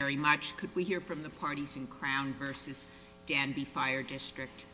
Thank you very much. Could we hear from the parties in Crown v. Danby Fire District?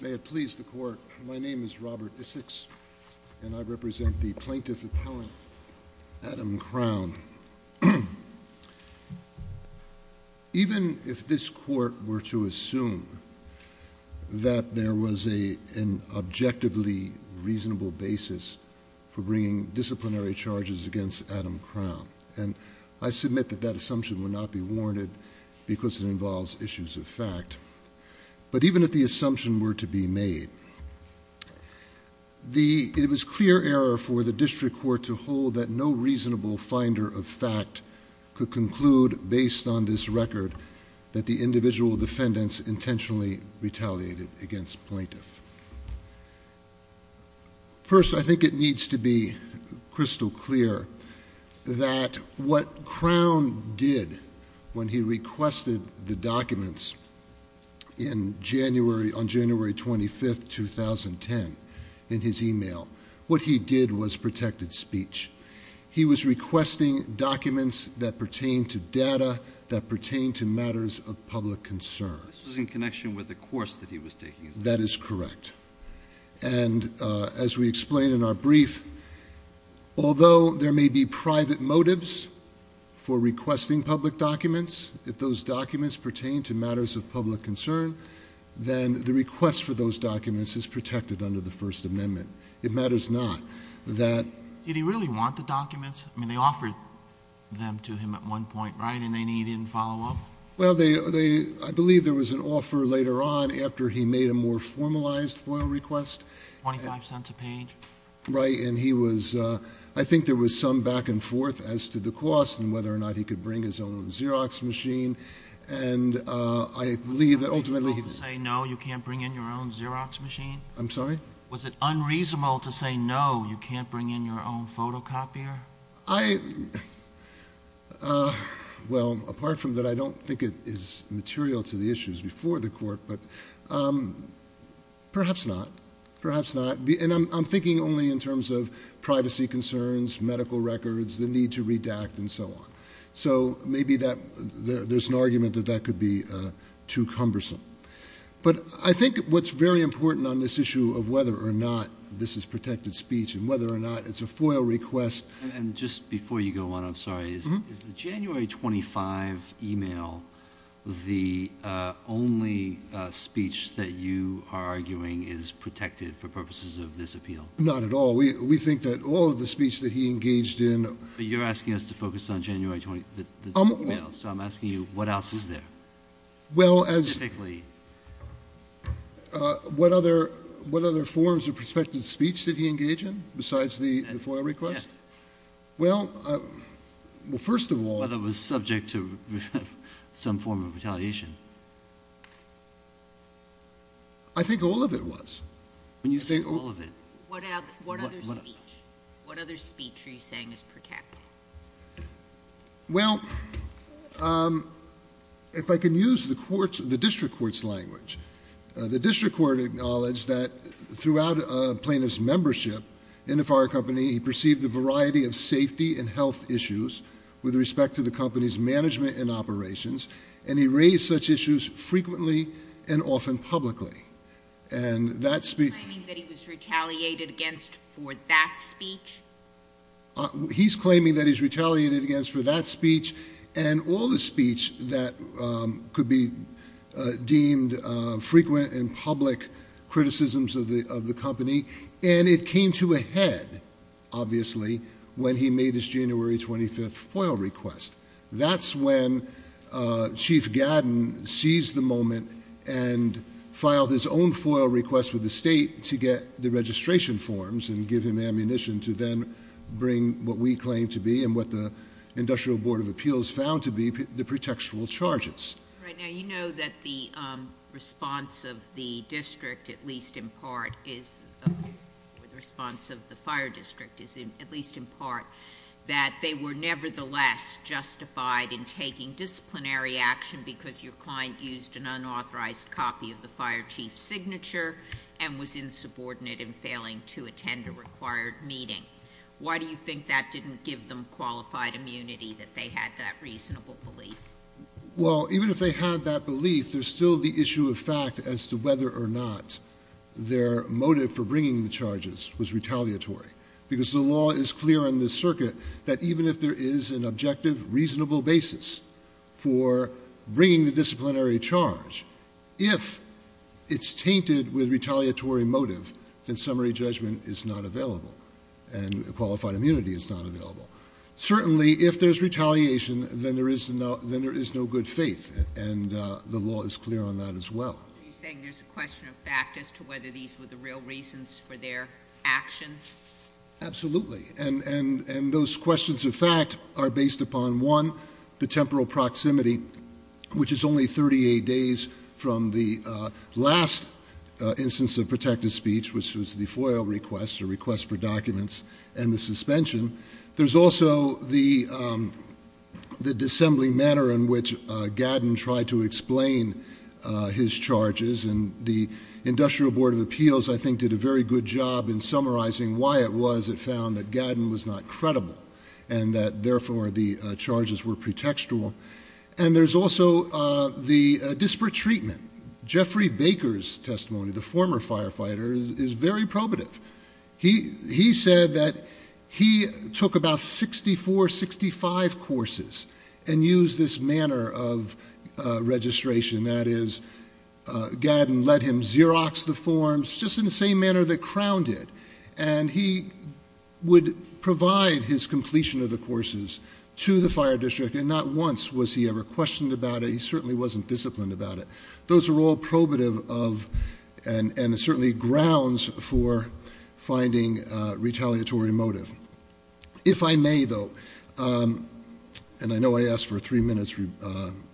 May it please the Court, my name is Robert Issacs and I represent the Plaintiff Appellant Adam Crown. Even if this Court were to assume that there was an objectively reasonable basis for bringing disciplinary charges against Adam Crown, and I submit that that assumption would not be warranted because it involves issues of fact, but even if the assumption were to be made, it was clear error for the District Court to hold that no reasonable finder of fact could conclude based on this record that the individual defendants intentionally retaliated against plaintiff. First, I think it needs to be crystal clear that what Crown did when he requested the documents on January 25, 2010 in his e-mail, what he did was protected speech. He was requesting documents that pertain to data, that pertain to matters of public concern. This was in connection with the course that he was taking. That is correct. And as we explained in our brief, although there may be private motives for requesting public documents, if those documents pertain to matters of public concern, then the request for those documents is protected under the First Amendment. It matters not that... Did he really want the documents? I mean, they offered them to him at one point, right, and they needed follow-up? Well, I believe there was an offer later on after he made a more formalized FOIL request. Twenty-five cents a page? Right. And he was, I think there was some back and forth as to the cost and whether or not he could bring his own Xerox machine. And I believe that ultimately... Was it unreasonable to say no, you can't bring in your own Xerox machine? I'm sorry? Was it unreasonable to say no, you can't bring in your own photocopier? I... Well, apart from that, I don't think it is material to the issues before the court, but perhaps not. Perhaps not. And I'm thinking only in terms of privacy concerns, medical records, the need to redact, and so on. So maybe there's an argument that that could be too cumbersome. But I think what's very important on this issue of whether or not this is protected speech and whether or not it's a FOIL request... And just before you go on, I'm sorry, is the January 25 email the only speech that you are arguing is protected for purposes of this appeal? Not at all. We think that all of the speech that he engaged in... But you're asking us to focus on January 20, the email. So I'm asking you, what else is there? Well, as... Specifically. What other forms of prospective speech did he engage in besides the FOIL request? Yes. Well, first of all... Whether it was subject to some form of retaliation. I think all of it was. When you say all of it, what other speech are you saying is protected? Well, if I can use the district court's language, the district court acknowledged that throughout Plaintiff's membership in the fire company, he perceived a variety of safety and health issues with respect to the company's management and operations, and he raised such issues frequently and often publicly. And that speech... Are you claiming that he was retaliated against for that speech? He's claiming that he's retaliated against for that speech and all the speech that could be deemed frequent and public criticisms of the company. And it came to a head, obviously, when he made his January 25 FOIL request. That's when Chief Gadden seized the moment and filed his own FOIL request with the state to get the registration forms and give him ammunition to then bring what we claim to be and what the Industrial Board of Appeals found to be the pretextual charges. Right. Now, you know that the response of the district, at least in part, is... The response of the fire district is, at least in part, that they were nevertheless justified in taking disciplinary action because your client used an unauthorized copy of the fire chief's signature and was insubordinate in failing to attend a required meeting. Why do you think that didn't give them qualified immunity, that they had that reasonable belief? Well, even if they had that belief, there's still the issue of fact as to whether or not their motive for bringing the charges was retaliatory. Because the law is clear in this circuit that even if there is an objective, reasonable basis for bringing the disciplinary charge, if it's tainted with retaliatory motive, then summary judgment is not available and qualified immunity is not available. Certainly, if there's retaliation, then there is no good faith, and the law is clear on that as well. Are you saying there's a question of fact as to whether these were the real reasons for their actions? Absolutely. And those questions of fact are based upon, one, the temporal proximity, which is only 38 days from the last instance of protective speech, which was the FOIL request, the request for documents, and the suspension. There's also the disassembly manner in which Gadden tried to explain his charges, and the Industrial Board of Appeals, I think, did a very good job in summarizing why it was it found that Gadden was not credible and that, therefore, the charges were pretextual. And there's also the disparate treatment. Jeffrey Baker's testimony, the former firefighter, is very probative. He said that he took about 64, 65 courses and used this manner of registration, that is, Gadden let him Xerox the forms just in the same manner that Crown did, and he would provide his completion of the courses to the fire district and not once was he ever questioned about it. He certainly wasn't disciplined about it. Those are all probative of and certainly grounds for finding retaliatory motive. If I may, though, and I know I asked for a three-minute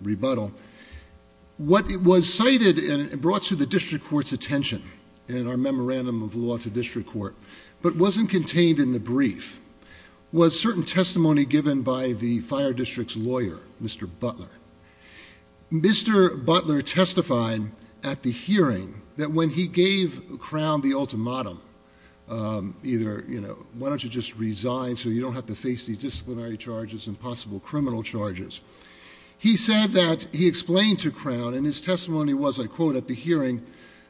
rebuttal, what was cited and brought to the district court's attention in our memorandum of law to district court but wasn't contained in the brief was certain testimony given by the fire district's lawyer, Mr. Butler. Mr. Butler testified at the hearing that when he gave Crown the ultimatum, either, you know, why don't you just resign so you don't have to face these disciplinary charges and possible criminal charges, he said that he explained to Crown, and his testimony was, I quote, at the hearing,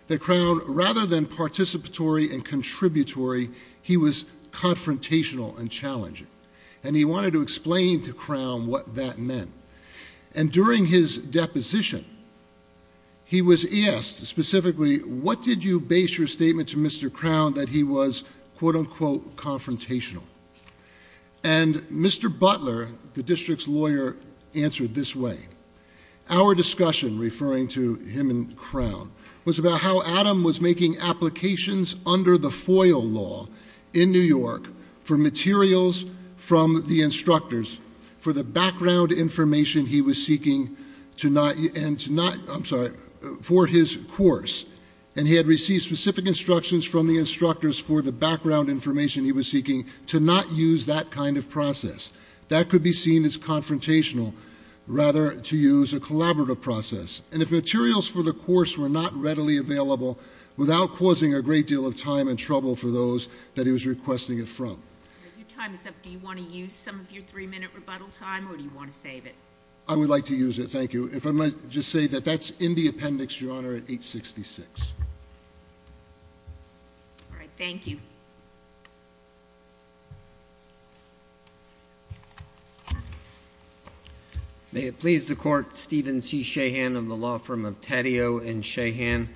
that Crown, rather than participatory and contributory, he was confrontational and challenging. And he wanted to explain to Crown what that meant. And during his deposition, he was asked specifically, what did you base your statement to Mr. Crown that he was, quote, unquote, confrontational? And Mr. Butler, the district's lawyer, answered this way. Our discussion, referring to him and Crown, was about how Adam was making applications under the FOIL law in New York for materials from the instructors for the background information he was seeking to not, and to not, I'm sorry, for his course. And he had received specific instructions from the instructors for the background information he was seeking to not use that kind of process. That could be seen as confrontational, rather to use a collaborative process. And if materials for the course were not readily available without causing a great deal of time and trouble for those that he was requesting it from. Your time is up. Do you want to use some of your three-minute rebuttal time, or do you want to save it? I would like to use it, thank you. If I might just say that that's in the appendix, Your Honor, at 866. All right, thank you. Thank you. May it please the Court, Stephen C. Sheahan of the law firm of Taddeo and Sheahan,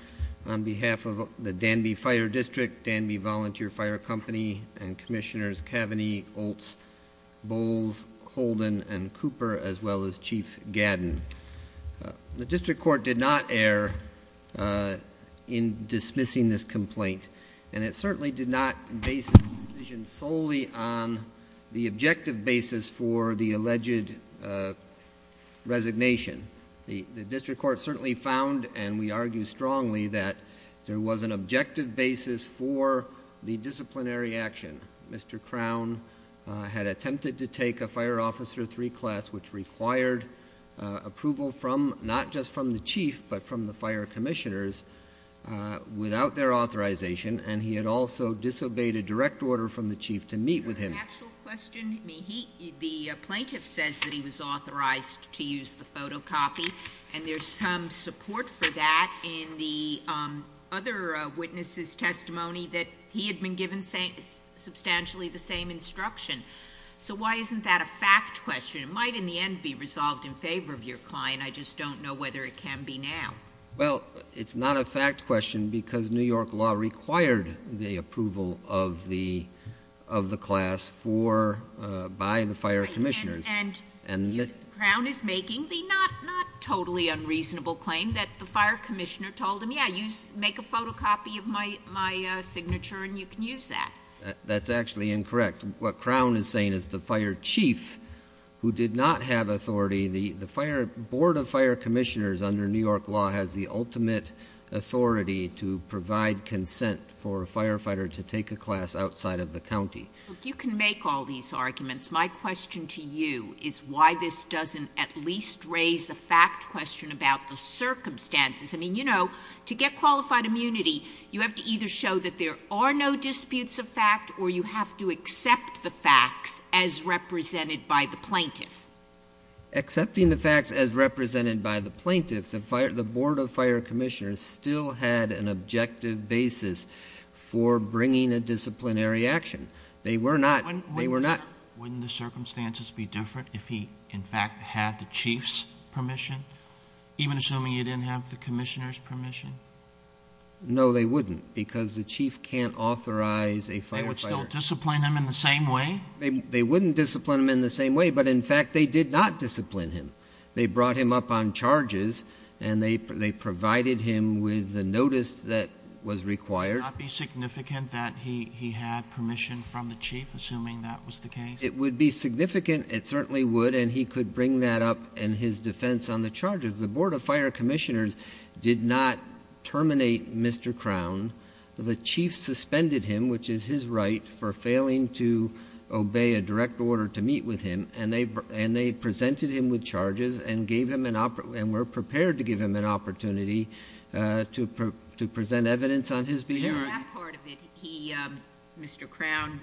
on behalf of the Danby Fire District, Danby Volunteer Fire Company, and Commissioners Cavaney, Oltz, Bowles, Holden, and Cooper, as well as Chief Gadden. The district court did not err in dismissing this complaint. And it certainly did not base the decision solely on the objective basis for the alleged resignation. The district court certainly found, and we argue strongly, that there was an objective basis for the disciplinary action. Mr. Crown had attempted to take a Fire Officer III class, which required approval not just from the chief, but from the fire commissioners, without their authorization. And he had also disobeyed a direct order from the chief to meet with him. The plaintiff says that he was authorized to use the photocopy, and there's some support for that in the other witness's testimony, that he had been given substantially the same instruction. So why isn't that a fact question? It might, in the end, be resolved in favor of your client. I just don't know whether it can be now. Well, it's not a fact question because New York law required the approval of the class by the fire commissioners. And Crown is making the not totally unreasonable claim that the fire commissioner told him, yeah, make a photocopy of my signature and you can use that. That's actually incorrect. What Crown is saying is the fire chief, who did not have authority, the Board of Fire Commissioners under New York law has the ultimate authority to provide consent for a firefighter to take a class outside of the county. You can make all these arguments. My question to you is why this doesn't at least raise a fact question about the circumstances. I mean, you know, to get qualified immunity, you have to either show that there are no disputes of fact or you have to accept the facts as represented by the plaintiff. Accepting the facts as represented by the plaintiff, the Board of Fire Commissioners still had an objective basis for bringing a disciplinary action. They were not. Wouldn't the circumstances be different if he, in fact, had the chief's permission, even assuming he didn't have the commissioner's permission? No, they wouldn't because the chief can't authorize a firefighter. They would still discipline him in the same way? They wouldn't discipline him in the same way, but, in fact, they did not discipline him. They brought him up on charges and they provided him with the notice that was required. Would it not be significant that he had permission from the chief, assuming that was the case? It would be significant. It certainly would, and he could bring that up in his defense on the charges. The Board of Fire Commissioners did not terminate Mr. Crown. The chief suspended him, which is his right, for failing to obey a direct order to meet with him, and they presented him with charges and were prepared to give him an opportunity to present evidence on his behavior. In that part of it, Mr. Crown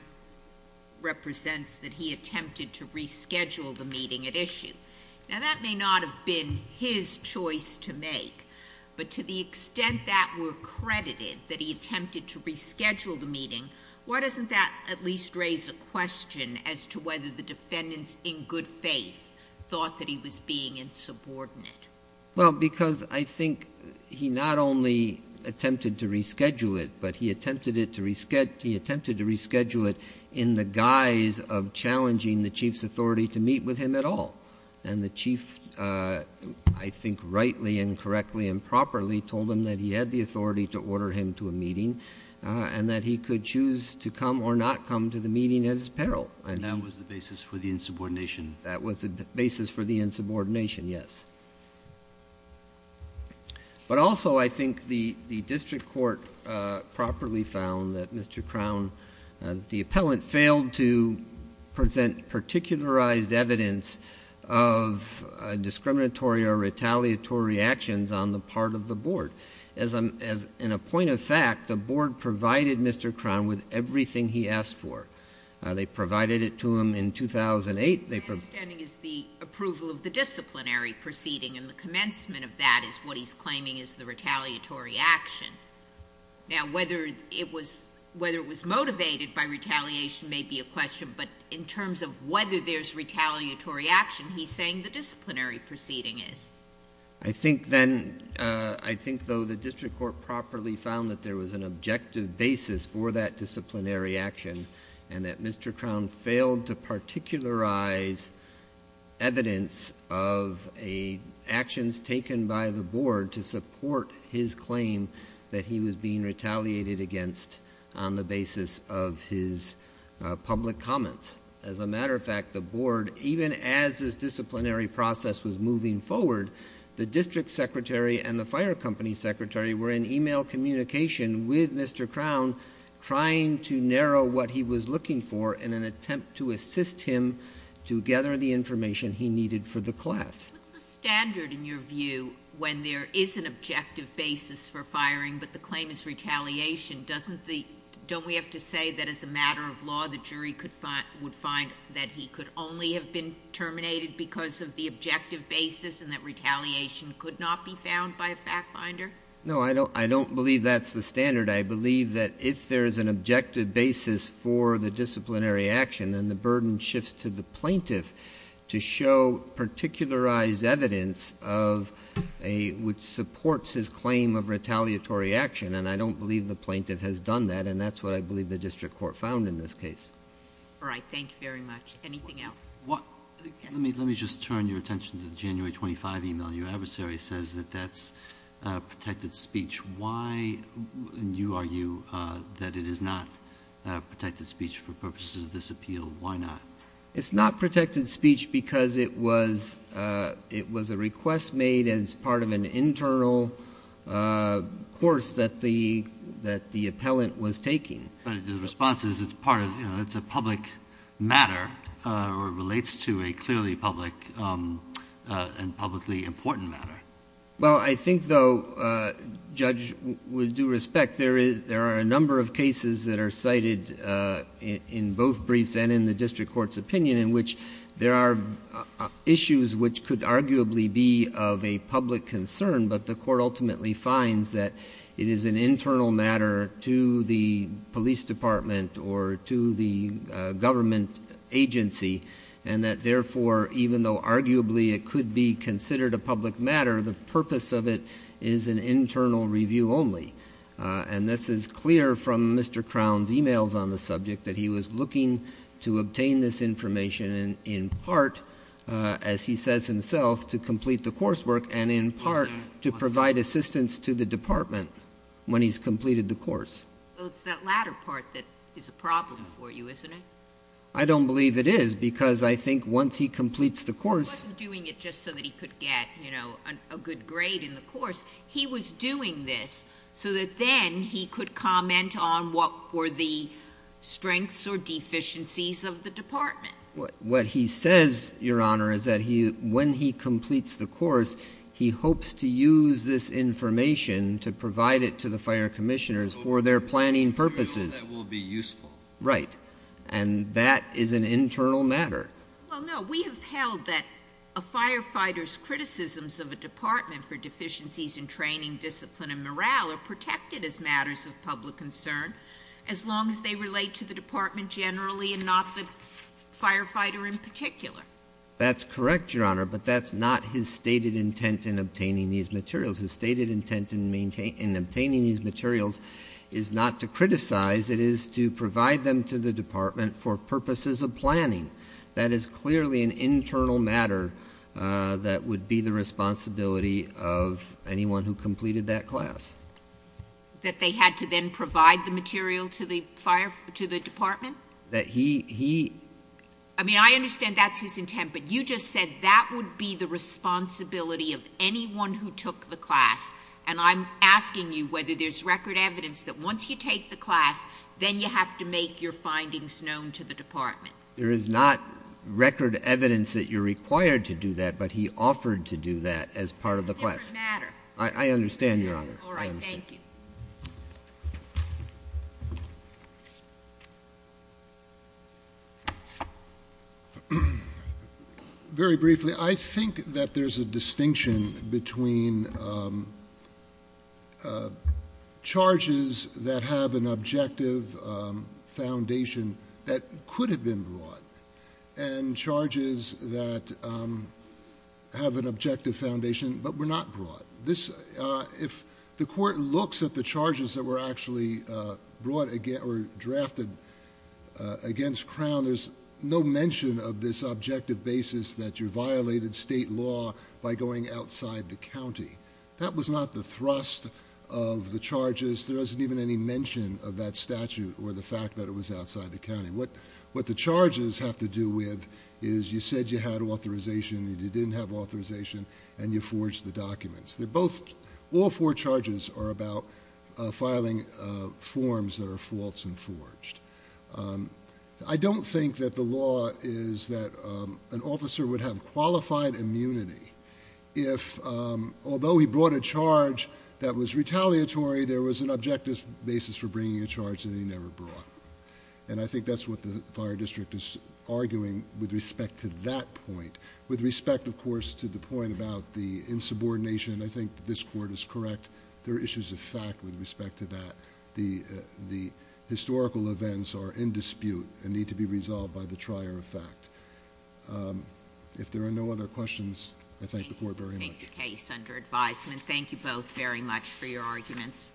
represents that he attempted to reschedule the meeting at issue. Now, that may not have been his choice to make, but to the extent that we're credited that he attempted to reschedule the meeting, why doesn't that at least raise a question as to whether the defendants in good faith thought that he was being insubordinate? Well, because I think he not only attempted to reschedule it, but he attempted to reschedule it in the guise of challenging the chief's authority to meet with him at all. And the chief, I think rightly and correctly and properly, told him that he had the authority to order him to a meeting and that he could choose to come or not come to the meeting at his peril. And that was the basis for the insubordination? That was the basis for the insubordination, yes. But also, I think the district court properly found that Mr. Crown, the appellant failed to present particularized evidence of discriminatory or retaliatory actions on the part of the board. In a point of fact, the board provided Mr. Crown with everything he asked for. They provided it to him in 2008. My understanding is the approval of the disciplinary proceeding, and the commencement of that is what he's claiming is the retaliatory action. Now, whether it was motivated by retaliation may be a question, but in terms of whether there's retaliatory action, he's saying the disciplinary proceeding is. I think, though, the district court properly found that there was an objective basis for that disciplinary action and that Mr. Crown failed to particularize evidence of actions taken by the board to support his claim that he was being retaliated against on the basis of his public comments. As a matter of fact, the board, even as this disciplinary process was moving forward, the district secretary and the fire company secretary were in email communication with Mr. Crown trying to narrow what he was looking for in an attempt to assist him to gather the information he needed for the class. What's the standard in your view when there is an objective basis for firing but the claim is retaliation? Don't we have to say that as a matter of law the jury would find that he could only have been terminated because of the objective basis and that retaliation could not be found by a fact finder? No, I don't believe that's the standard. I believe that if there is an objective basis for the disciplinary action, then the burden shifts to the plaintiff to show particularized evidence which supports his claim of retaliatory action. And I don't believe the plaintiff has done that, and that's what I believe the district court found in this case. All right. Thank you very much. Anything else? Let me just turn your attention to the January 25 email. Your adversary says that that's protected speech. Why do you argue that it is not protected speech for purposes of this appeal? Why not? It's not protected speech because it was a request made as part of an internal course that the appellant was taking. But the response is it's a public matter or relates to a clearly public and publicly important matter. Well, I think, though, Judge, with due respect, there are a number of cases that are cited in both briefs and in the district court's opinion in which there are issues which could arguably be of a public concern, but the court ultimately finds that it is an internal matter to the police department or to the government agency, and that, therefore, even though arguably it could be considered a public matter, the purpose of it is an internal review only. And this is clear from Mr. Crown's emails on the subject that he was looking to obtain this information in part, as he says himself, to complete the coursework and in part to provide assistance to the department when he's completed the course. Well, it's that latter part that is a problem for you, isn't it? I don't believe it is because I think once he completes the course — He wasn't doing it just so that he could get, you know, a good grade in the course. He was doing this so that then he could comment on what were the strengths or deficiencies of the department. What he says, Your Honor, is that when he completes the course, he hopes to use this information to provide it to the fire commissioners for their planning purposes. So that will be useful. Right. And that is an internal matter. Well, no. We have held that a firefighter's criticisms of a department for deficiencies in training, discipline, and morale are protected as matters of public concern, as long as they relate to the department generally and not the firefighter in particular. That's correct, Your Honor, but that's not his stated intent in obtaining these materials. His stated intent in obtaining these materials is not to criticize. It is to provide them to the department for purposes of planning. That is clearly an internal matter that would be the responsibility of anyone who completed that class. That they had to then provide the material to the department? That he — I mean, I understand that's his intent, but you just said that would be the responsibility of anyone who took the class. And I'm asking you whether there's record evidence that once you take the class, then you have to make your findings known to the department. There is not record evidence that you're required to do that, but he offered to do that as part of the class. It's an internal matter. I understand, Your Honor. All right. Thank you. Very briefly, I think that there's a distinction between charges that have an objective foundation that could have been brought and charges that have an objective foundation but were not brought. If the court looks at the charges that were actually brought or drafted against Crown, there's no mention of this objective basis that you violated state law by going outside the county. That was not the thrust of the charges. There wasn't even any mention of that statute or the fact that it was outside the county. What the charges have to do with is you said you had authorization, you didn't have authorization, and you forged the documents. All four charges are about filing forms that are false and forged. I don't think that the law is that an officer would have qualified immunity if, although he brought a charge that was retaliatory, there was an objective basis for bringing a charge that he never brought. I think that's what the Fire District is arguing with respect to that point. With respect, of course, to the point about the insubordination, I think this court is correct. There are issues of fact with respect to that. The historical events are in dispute and need to be resolved by the trier of fact. If there are no other questions, I thank the court very much. Thank you for taking the case under advisement. Thank you both very much for your arguments.